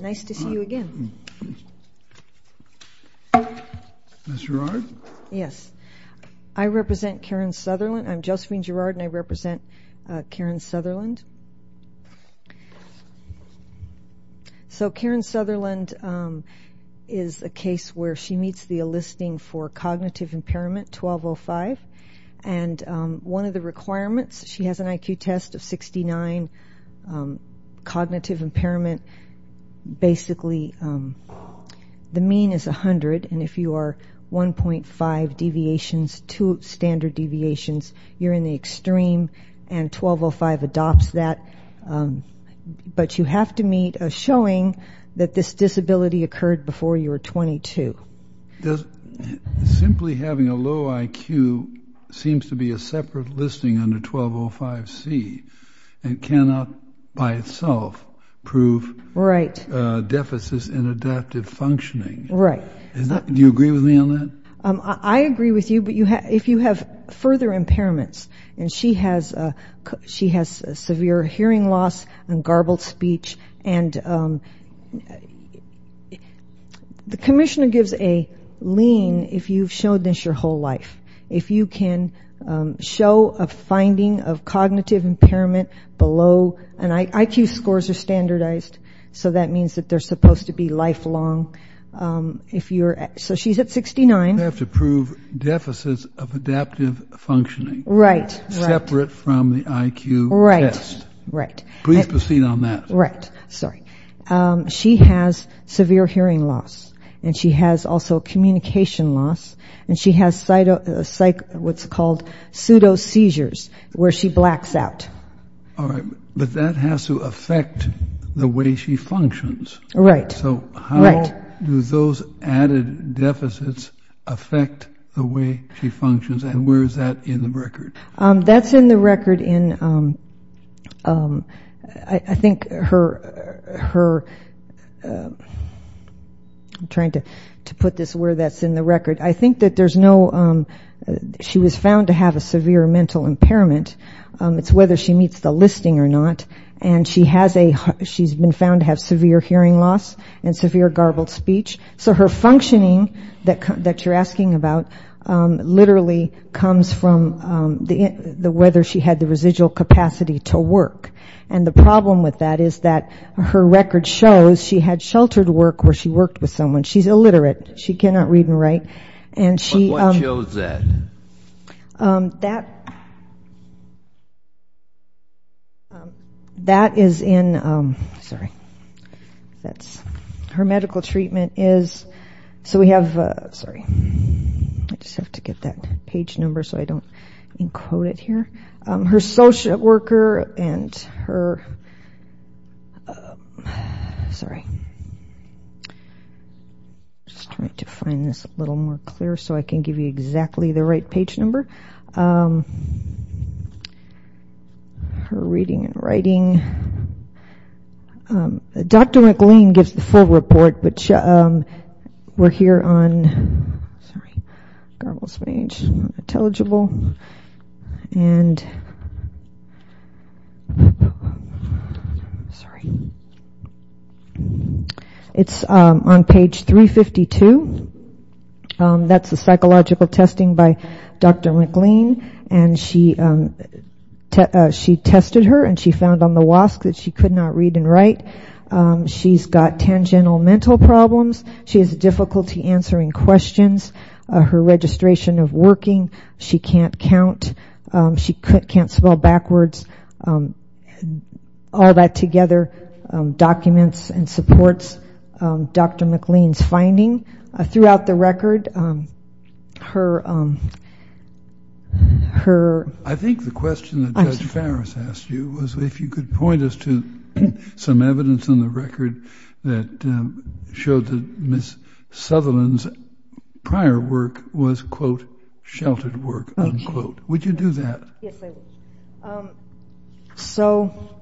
Nice to see you again. Ms. Gerard? Yes. I represent Karen Sutherland. I'm Josephine Gerard and I represent Karen Sutherland. So Karen Sutherland is a case where she meets the enlisting for cognitive impairment 1205. And one of the requirements, she has an IQ test of 69, cognitive impairment basically the mean is 100 and if you are 1.5 deviations to standard deviations, you're in the extreme and 1205 adopts that. But you have to meet a showing that this disability occurred before you were 22. Simply having a low IQ seems to be a separate listing under 1205C and cannot by itself prove deficits in adaptive functioning. Do you agree with me on that? I agree with you, but if you have further impairments and she has severe hearing loss and garbled speech and the commissioner gives a lean if you've showed this your whole life. If you can show a finding of cognitive impairment below and IQ scores are standardized so that means that they're supposed to be lifelong. So she's at 69. You have to prove deficits of adaptive functioning. Right. Separate from the IQ test. Right. Please proceed on that. Right. Sorry. She has severe hearing loss and she has also communication loss and she has what's called pseudo seizures where she blacks out. All right. But that has to affect the way she functions. Right. So how do those added deficits affect the way she functions and where is that in the record? That's in the record in, I think, her, I'm trying to put this where that's in the record. I think that there's no, she was found to have a severe mental impairment. It's whether she meets the listing or not. And she has a, she's been found to have severe hearing loss and severe garbled speech. So her functioning that you're asking about literally comes from whether she had the residual capacity to work. And the problem with that is that her record shows she had sheltered work where she worked with someone. She's illiterate. She cannot read and write. What shows that? That is in, sorry, that's her medical treatment is, so we have, sorry, I just have to get that page number so I don't encode it here. Her social worker and her, sorry, just trying to find this a little more clear so I can give you exactly the right page number. Her reading and writing. Dr. McLean gives the full report, but we're here on, sorry, garbled speech, intelligible. And, sorry. It's on page 352. That's the psychological testing by Dr. McLean. And she tested her and she found on the WASC that she could not read and write. She's got tangential mental problems. She has difficulty answering questions. Her registration of working. She can't count. She can't spell backwards. All that together documents and supports Dr. McLean's finding. Throughout the record, her. I think the question that Judge Farris asked you was if you could point us to some evidence on the record that showed that Ms. Sutherland's prior work was, quote, sheltered work, unquote. Would you do that? Yes, I would. So,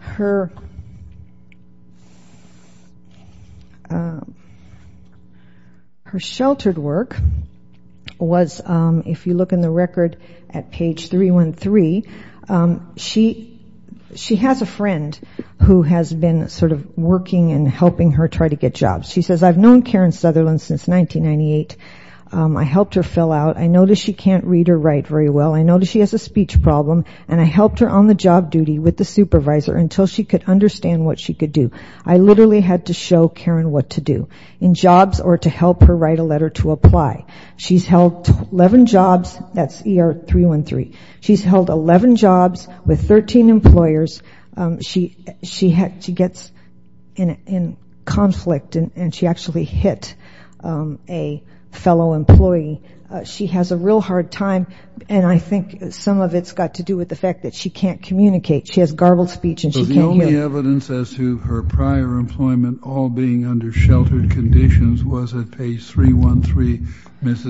her. Her sheltered work was, if you look in the record at page 313, she has a friend who has been sort of working and helping her try to get jobs. She says, I've known Karen Sutherland since 1998. I helped her fill out. I noticed she can't read or write very well. I noticed she has a speech problem, and I helped her on the job duty with the supervisor until she could understand what she could do. I literally had to show Karen what to do, in jobs or to help her write a letter to apply. She's held 11 jobs. That's ER 313. She's held 11 jobs with 13 employers. She gets in conflict, and she actually hit a fellow employee. She has a real hard time, and I think some of it's got to do with the fact that she can't communicate. She has garbled speech, and she can't hear. But the only evidence as to her prior employment all being under sheltered conditions was at page 313, Ms.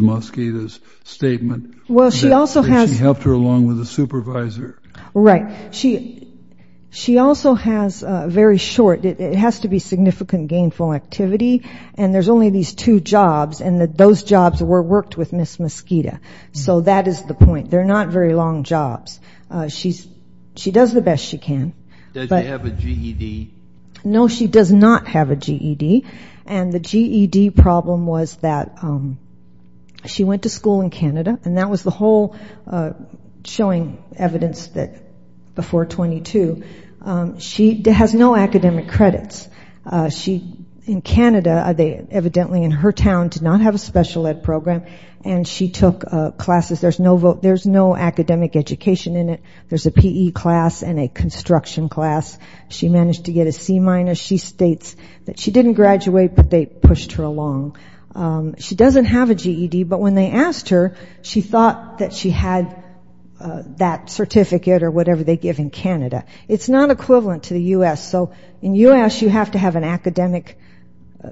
Mosqueda's statement that she helped her along with the supervisor. Right. She also has very short ñ it has to be significant gainful activity, and there's only these two jobs, and those jobs were worked with Ms. Mosqueda. So that is the point. They're not very long jobs. She does the best she can. Does she have a GED? No, she does not have a GED. And the GED problem was that she went to school in Canada, and that was the whole showing evidence before 22. She has no academic credits. In Canada, evidently in her town, did not have a special ed program, and she took classes. There's no academic education in it. There's a PE class and a construction class. She managed to get a C-minus. She states that she didn't graduate, but they pushed her along. She doesn't have a GED, but when they asked her, she thought that she had that certificate or whatever they give in Canada. It's not equivalent to the U.S. So in U.S., you have to have an academic,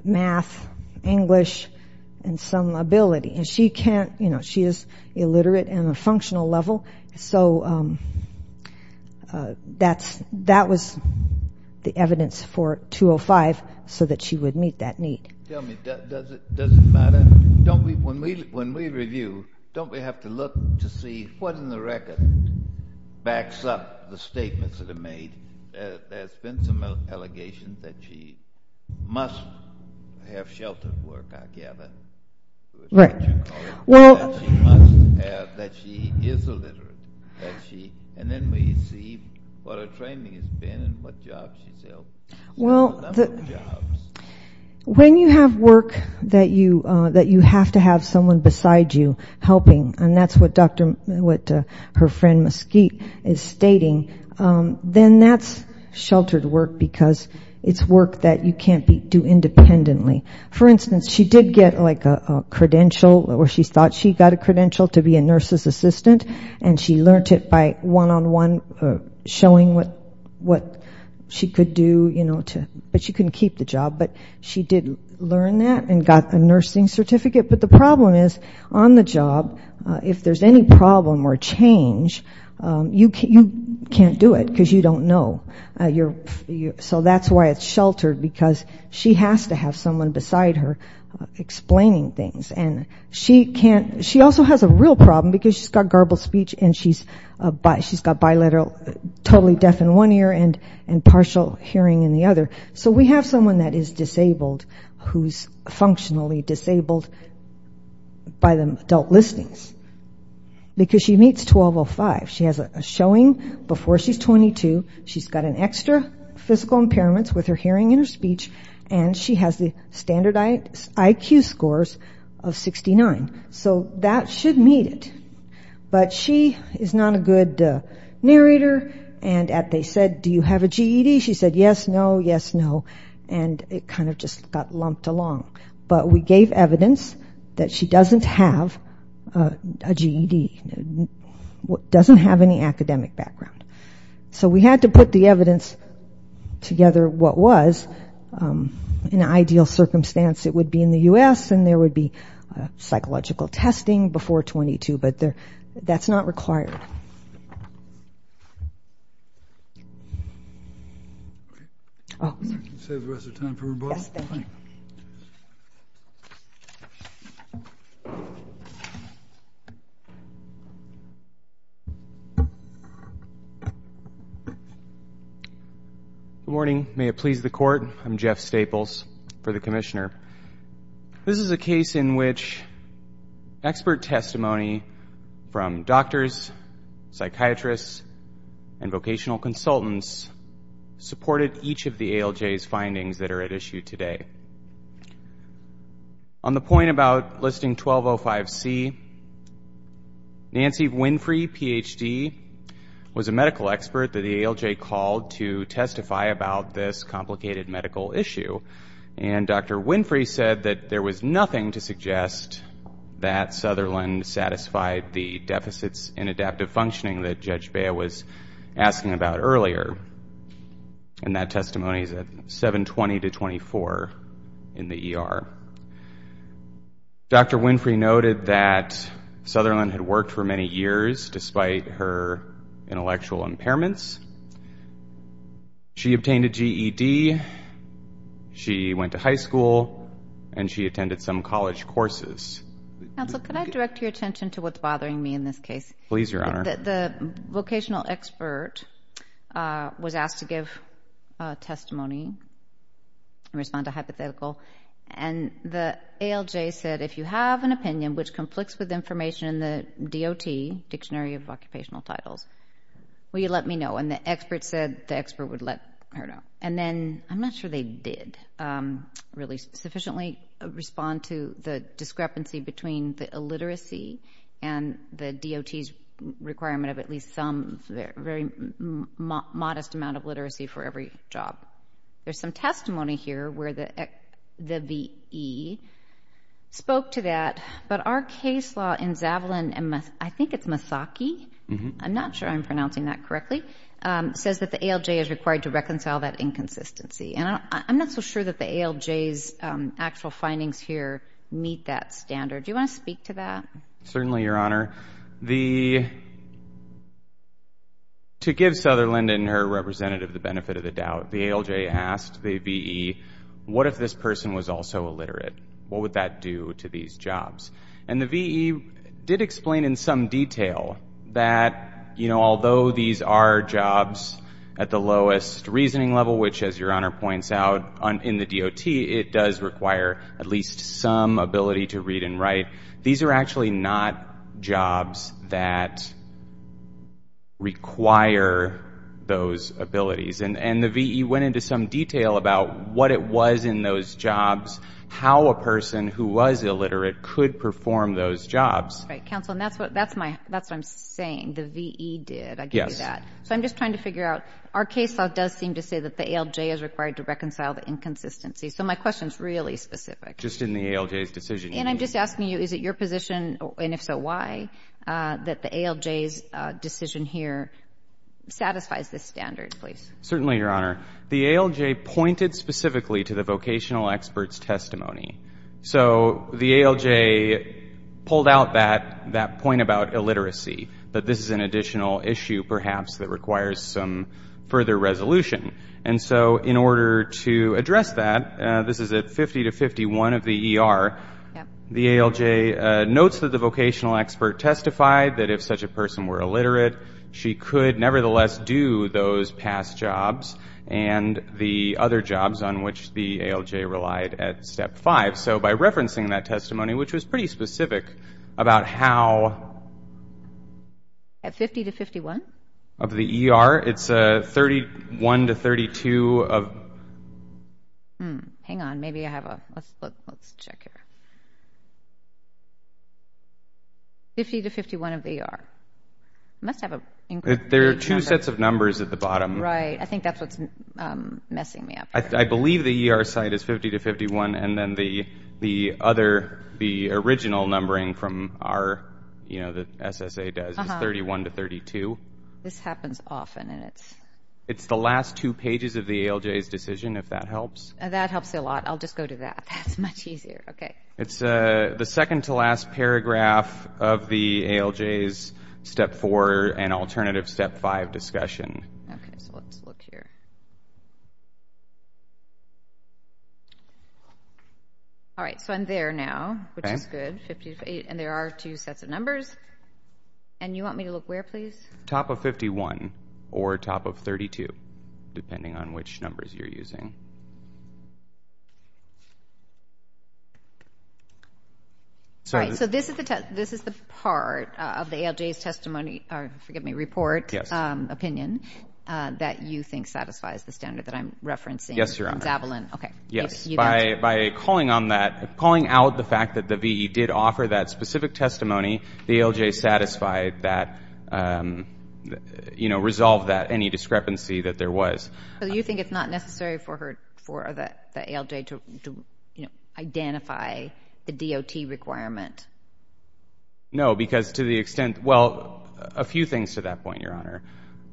math, English, and some ability, and she is illiterate on a functional level. So that was the evidence for 205 so that she would meet that need. Tell me, does it matter? When we review, don't we have to look to see what in the record backs up the statements that are made? There's been some allegations that she must have sheltered work, I gather. Right. That she must have, that she is illiterate, and then we see what her training has been and what jobs she's helped. There's a number of jobs. When you have work that you have to have someone beside you helping, and that's what her friend Mesquite is stating, then that's sheltered work because it's work that you can't do independently. For instance, she did get a credential, or she thought she got a credential to be a nurse's assistant, and she learned it by one-on-one showing what she could do, but she couldn't keep the job. But she did learn that and got a nursing certificate. But the problem is, on the job, if there's any problem or change, you can't do it because you don't know. So that's why it's sheltered, because she has to have someone beside her explaining things. And she can't, she also has a real problem because she's got garbled speech and she's got bilateral, totally deaf in one ear and partial hearing in the other. So we have someone that is disabled who's functionally disabled by the adult listings. Because she meets 12-05. She has a showing before she's 22. She's got an extra physical impairment with her hearing and her speech, and she has the standard IQ scores of 69. So that should meet it. But she is not a good narrator, and they said, do you have a GED? She said, yes, no, yes, no, and it kind of just got lumped along. But we gave evidence that she doesn't have a GED. Doesn't have any academic background. So we had to put the evidence together, what was. In an ideal circumstance, it would be in the U.S., and there would be psychological testing before 22, but that's not required. Save the rest of the time for rebuttal. Yes, thank you. Thank you. Good morning. May it please the Court. I'm Jeff Staples for the Commissioner. This is a case in which expert testimony from doctors, psychiatrists, and vocational consultants supported each of the ALJ's findings that are at issue today. On the point about Listing 1205C, Nancy Winfrey, Ph.D., was a medical expert that the ALJ called to testify about this complicated medical issue, and Dr. Winfrey said that there was nothing to suggest that Sutherland satisfied the deficits in adaptive functioning that Judge Bea was asking about earlier, and that testimony is at 720-24 in the ER. Dr. Winfrey noted that Sutherland had worked for many years, despite her intellectual impairments. She obtained a GED, she went to high school, and she attended some college courses. Counsel, could I direct your attention to what's bothering me in this case? Please, Your Honor. The vocational expert was asked to give testimony and respond to hypothetical, and the ALJ said, if you have an opinion which conflicts with information in the DOT, Dictionary of Occupational Titles, will you let me know? And the expert said the expert would let her know. And then, I'm not sure they did really sufficiently respond to the discrepancy between the illiteracy and the DOT's requirement of at least some, a very modest amount of literacy for every job. There's some testimony here where the V.E. spoke to that, but our case law in Zavalin, I think it's Masaki, I'm not sure I'm pronouncing that correctly, says that the ALJ is required to reconcile that inconsistency. And I'm not so sure that the ALJ's actual findings here meet that standard. Do you want to speak to that? Certainly, Your Honor. To give Sutherland and her representative the benefit of the doubt, the ALJ asked the V.E., what if this person was also illiterate? What would that do to these jobs? And the V.E. did explain in some detail that, you know, although these are jobs at the lowest reasoning level, which, as Your Honor points out, in the DOT it does require at least some ability to read and write, these are actually not jobs that require those abilities. And the V.E. went into some detail about what it was in those jobs, how a person who was illiterate could perform those jobs. Right. Counsel, and that's what I'm saying, the V.E. did. Yes. I get that. So I'm just trying to figure out, our case law does seem to say that the ALJ is required to reconcile the inconsistency. So my question is really specific. Just in the ALJ's decision. And I'm just asking you, is it your position, and if so, why, that the ALJ's decision here satisfies this standard, please? Certainly, Your Honor. The ALJ pointed specifically to the vocational expert's testimony. So the ALJ pulled out that point about illiteracy, that this is an additional issue perhaps that requires some further resolution. And so in order to address that, this is at 50 to 51 of the ER, the ALJ notes that the vocational expert testified that if such a person were illiterate, she could nevertheless do those past jobs and the other jobs on which the ALJ relied at Step 5. So by referencing that testimony, which was pretty specific about how... At 50 to 51? Of the ER, it's 31 to 32 of... Hang on. Maybe I have a... Let's check here. 50 to 51 of the ER. There are two sets of numbers at the bottom. Right. I think that's what's messing me up here. I believe the ER site is 50 to 51, and then the original numbering from the SSA does is 31 to 32. This happens often, and it's... It's the last two pages of the ALJ's decision, if that helps. That helps a lot. I'll just go to that. That's much easier. Okay. It's the second to last paragraph of the ALJ's Step 4 and alternative Step 5 discussion. Okay, so let's look here. All right, so I'm there now, which is good. And there are two sets of numbers. And you want me to look where, please? Top of 51 or top of 32, depending on which numbers you're using. All right, so this is the part of the ALJ's testimony, or forgive me, report opinion, that you think satisfies the standard that I'm referencing. Yes, Your Honor. Zavalin. Okay. Yes. By calling out the fact that the VE did offer that specific testimony, the ALJ satisfied that, you know, resolved that any discrepancy that there was. So you think it's not necessary for the ALJ to, you know, identify the DOT requirement? No, because to the extent, well, a few things to that point, Your Honor.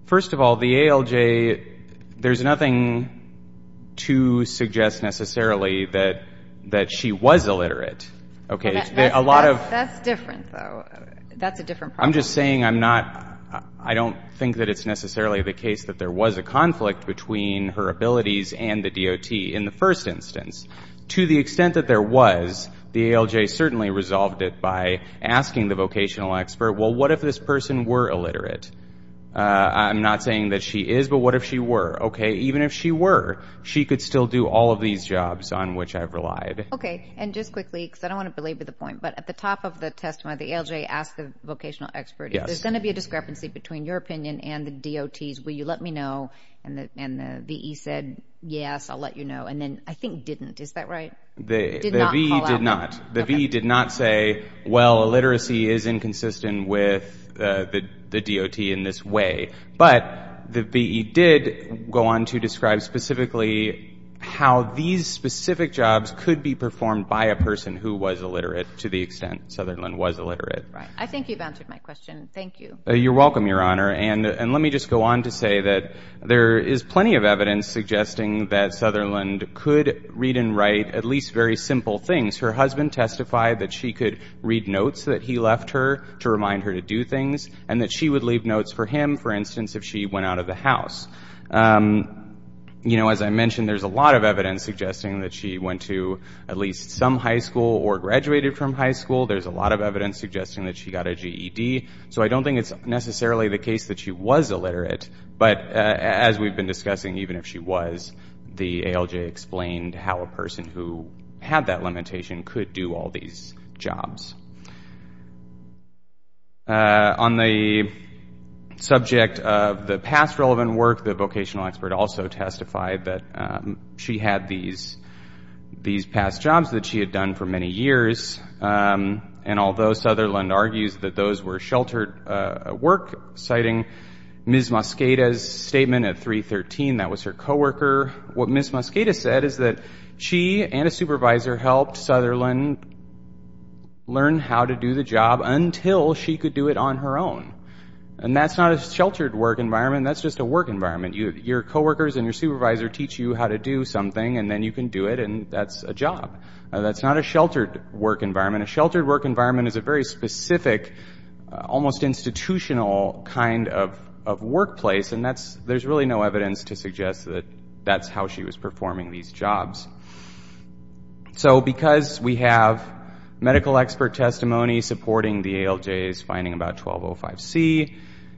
First of all, the ALJ, there's nothing to suggest necessarily that she was illiterate. That's different, though. That's a different problem. I'm just saying I'm not, I don't think that it's necessarily the case that there was a conflict between her abilities and the DOT in the first instance. To the extent that there was, the ALJ certainly resolved it by asking the vocational expert, well, what if this person were illiterate? I'm not saying that she is, but what if she were? Okay, even if she were, she could still do all of these jobs on which I've relied. Okay, and just quickly, because I don't want to belabor the point, but at the top of the testimony, the ALJ asked the vocational expert, there's going to be a discrepancy between your opinion and the DOT's. Will you let me know? And the V.E. said, yes, I'll let you know. And then I think didn't, is that right? The V.E. did not. The V.E. did not say, well, illiteracy is inconsistent with the DOT in this way. But the V.E. did go on to describe specifically how these specific jobs could be performed by a person who was illiterate to the extent Sutherland was illiterate. I think you've answered my question. Thank you. You're welcome, Your Honor. And let me just go on to say that there is plenty of evidence suggesting that Sutherland could read and write at least very simple things. Her husband testified that she could read notes that he left her to remind her to do things and that she would leave notes for him, for instance, if she went out of the house. You know, as I mentioned, there's a lot of evidence suggesting that she went to at least some high school or graduated from high school. There's a lot of evidence suggesting that she got a GED. So I don't think it's necessarily the case that she was illiterate. But as we've been discussing, even if she was, the ALJ explained how a person who had that limitation could do all these jobs. On the subject of the past relevant work, the vocational expert also testified that she had these past jobs that she had done for many years, and although Sutherland argues that those were sheltered work, citing Ms. Mosqueda's statement at 313, that was her co-worker, what Ms. Mosqueda said is that she and a supervisor helped Sutherland learn how to do the job until she could do it on her own. And that's not a sheltered work environment. That's just a work environment. Your co-workers and your supervisor teach you how to do something, and then you can do it, and that's a job. That's not a sheltered work environment. A sheltered work environment is a very specific, almost institutional kind of workplace, and there's really no evidence to suggest that that's how she was performing these jobs. So because we have medical expert testimony supporting the ALJ's finding about 1205C,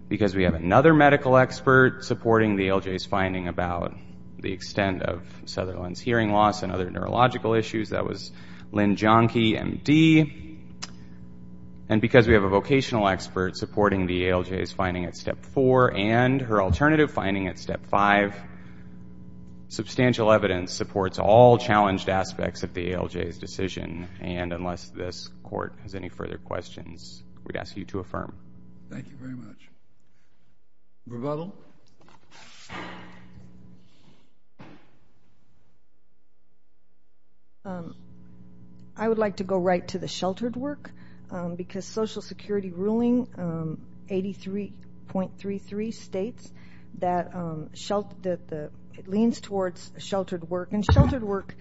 because we have another medical expert supporting the ALJ's finding about the extent of Sutherland's hearing loss and other neurological issues, that was Lynn Jahnke, MD, and because we have a vocational expert supporting the ALJ's finding at Step 4 and her alternative finding at Step 5, substantial evidence supports all challenged aspects of the ALJ's decision, and unless this Court has any further questions, we'd ask you to affirm. Thank you very much. Rebuttal. I would like to go right to the sheltered work because Social Security ruling 83.33 states that it leans towards sheltered work, and sheltered work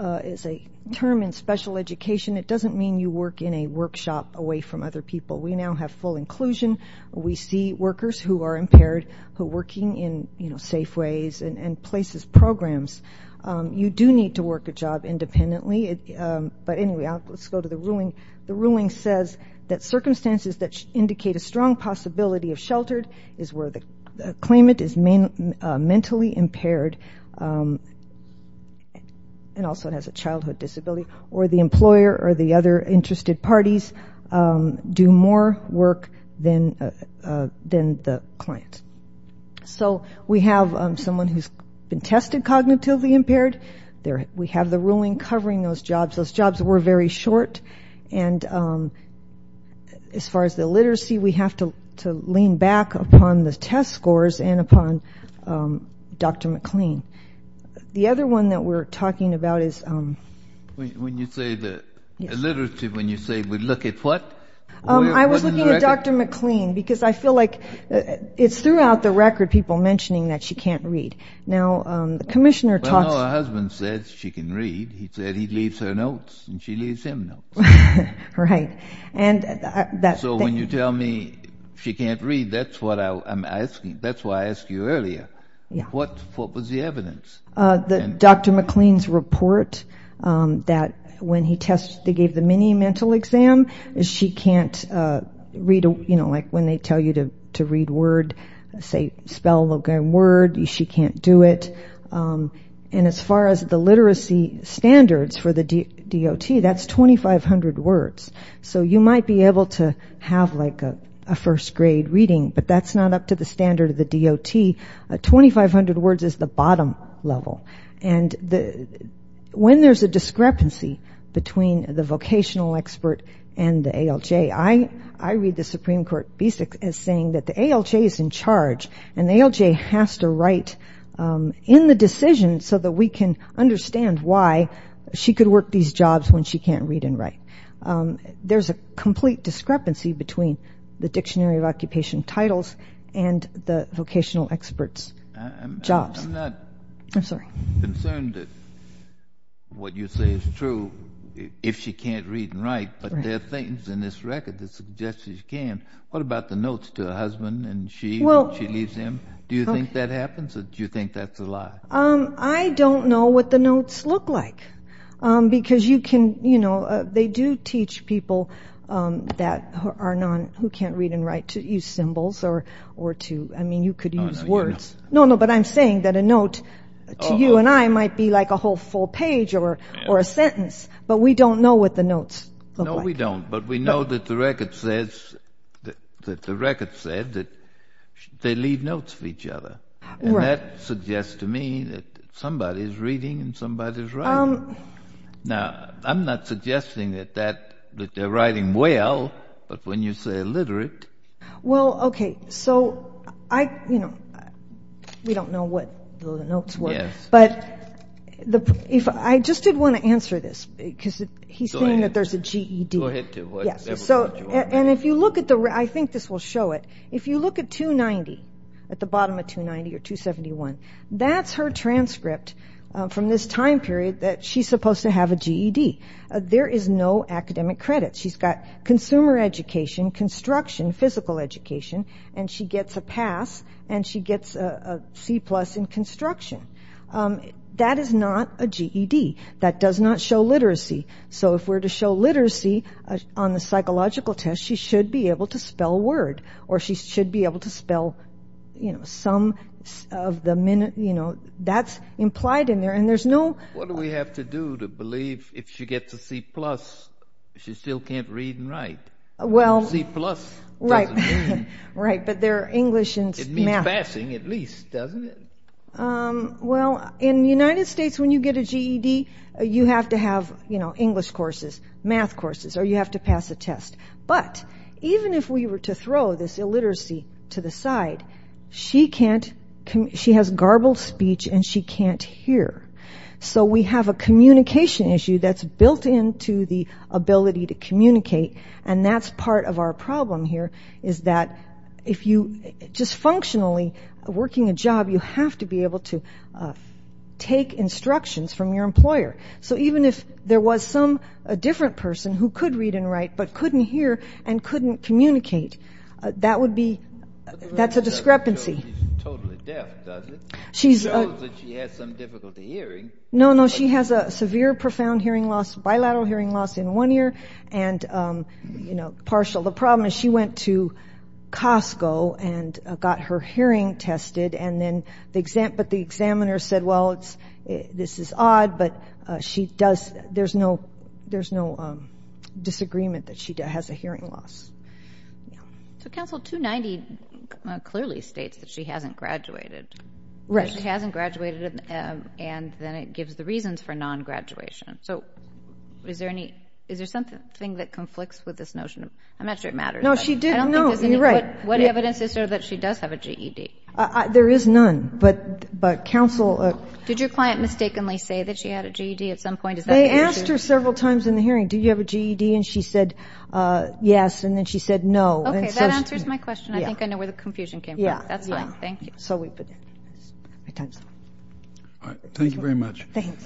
is a term in special education. It doesn't mean you work in a workshop away from other people. We now have full inclusion. We see workers who are impaired who are working in safe ways and places, programs. You do need to work a job independently, but anyway, let's go to the ruling. The ruling says that circumstances that indicate a strong possibility of sheltered is where the claimant is mentally impaired and also has a childhood disability, or the employer or the other interested parties do more work than the client. So we have someone who's been tested cognitively impaired. We have the ruling covering those jobs. Those jobs were very short, and as far as the literacy, we have to lean back upon the test scores and upon Dr. McLean. The other one that we're talking about is... When you say the literacy, when you say we look at what? I was looking at Dr. McLean because I feel like it's throughout the record people mentioning that she can't read. Now, the commissioner talks... Well, her husband says she can read. He said he leaves her notes, and she leaves him notes. Right. So when you tell me she can't read, that's what I'm asking. That's why I asked you earlier. What was the evidence? Dr. McLean's report that when he gave the mini mental exam, she can't read, you know, like when they tell you to read word, say, spell the word, she can't do it. And as far as the literacy standards for the DOT, that's 2,500 words. So you might be able to have, like, a first-grade reading, but that's not up to the standard of the DOT. 2,500 words is the bottom level. And when there's a discrepancy between the vocational expert and the ALJ, I read the Supreme Court basics as saying that the ALJ is in charge, and the ALJ has to write in the decision so that we can understand why she could work these jobs when she can't read and write. There's a complete discrepancy between the Dictionary of Occupation Titles and the vocational experts' jobs. I'm not concerned that what you say is true if she can't read and write, but there are things in this record that suggest that she can. What about the notes to her husband when she leaves him? Do you think that happens, or do you think that's a lie? I don't know what the notes look like. Because, you know, they do teach people who can't read and write to use symbols or to, I mean, you could use words. No, no, but I'm saying that a note to you and I might be like a whole full page or a sentence, but we don't know what the notes look like. No, we don't, but we know that the record said that they leave notes for each other. And that suggests to me that somebody's reading and somebody's writing. Now, I'm not suggesting that they're writing well, but when you say illiterate... Well, okay, so I, you know, we don't know what the notes were. But I just did want to answer this, because he's saying that there's a GED. Go ahead. And if you look at the, I think this will show it. If you look at 290, at the bottom of 290 or 271, that's her transcript from this time period that she's supposed to have a GED. There is no academic credit. She's got consumer education, construction, physical education, and she gets a pass and she gets a C plus in construction. That is not a GED. That does not show literacy. So if we're to show literacy on the psychological test, she should be able to spell a word or she should be able to spell, you know, some of the minute, you know, that's implied in there. And there's no... What do we have to do to believe if she gets a C plus she still can't read and write? Well... C plus doesn't mean... Right, but they're English and math. It means passing at least, doesn't it? Well, in the United States, when you get a GED, you have to have, you know, English courses, math courses, or you have to pass a test. But even if we were to throw this illiteracy to the side, she can't... She has garbled speech and she can't hear. So we have a communication issue that's built into the ability to communicate, and that's part of our problem here, is that if you just functionally, working a job, you have to be able to take instructions from your employer. So even if there was some different person who could read and write but couldn't hear and couldn't communicate, that would be... That's a discrepancy. She's totally deaf, doesn't she? She knows that she has some difficulty hearing. No, no, she has a severe, profound hearing loss, bilateral hearing loss in one ear, and, you know, partial. The problem is she went to Costco and got her hearing tested, but the examiner said, well, this is odd, but there's no disagreement that she has a hearing loss. So Council 290 clearly states that she hasn't graduated. Right. She hasn't graduated, and then it gives the reasons for non-graduation. So is there something that conflicts with this notion? I'm not sure it matters. No, she did know. You're right. What evidence is there that she does have a GED? There is none, but Council... Did your client mistakenly say that she had a GED at some point? They asked her several times in the hearing, do you have a GED, and she said yes, and then she said no. Okay, that answers my question. I think I know where the confusion came from. Yeah. That's fine, thank you. All right, thank you very much. Thanks.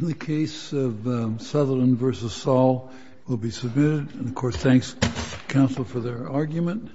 The case of Sutherland v. Saul will be submitted. And, of course, thanks, Council, for their argument.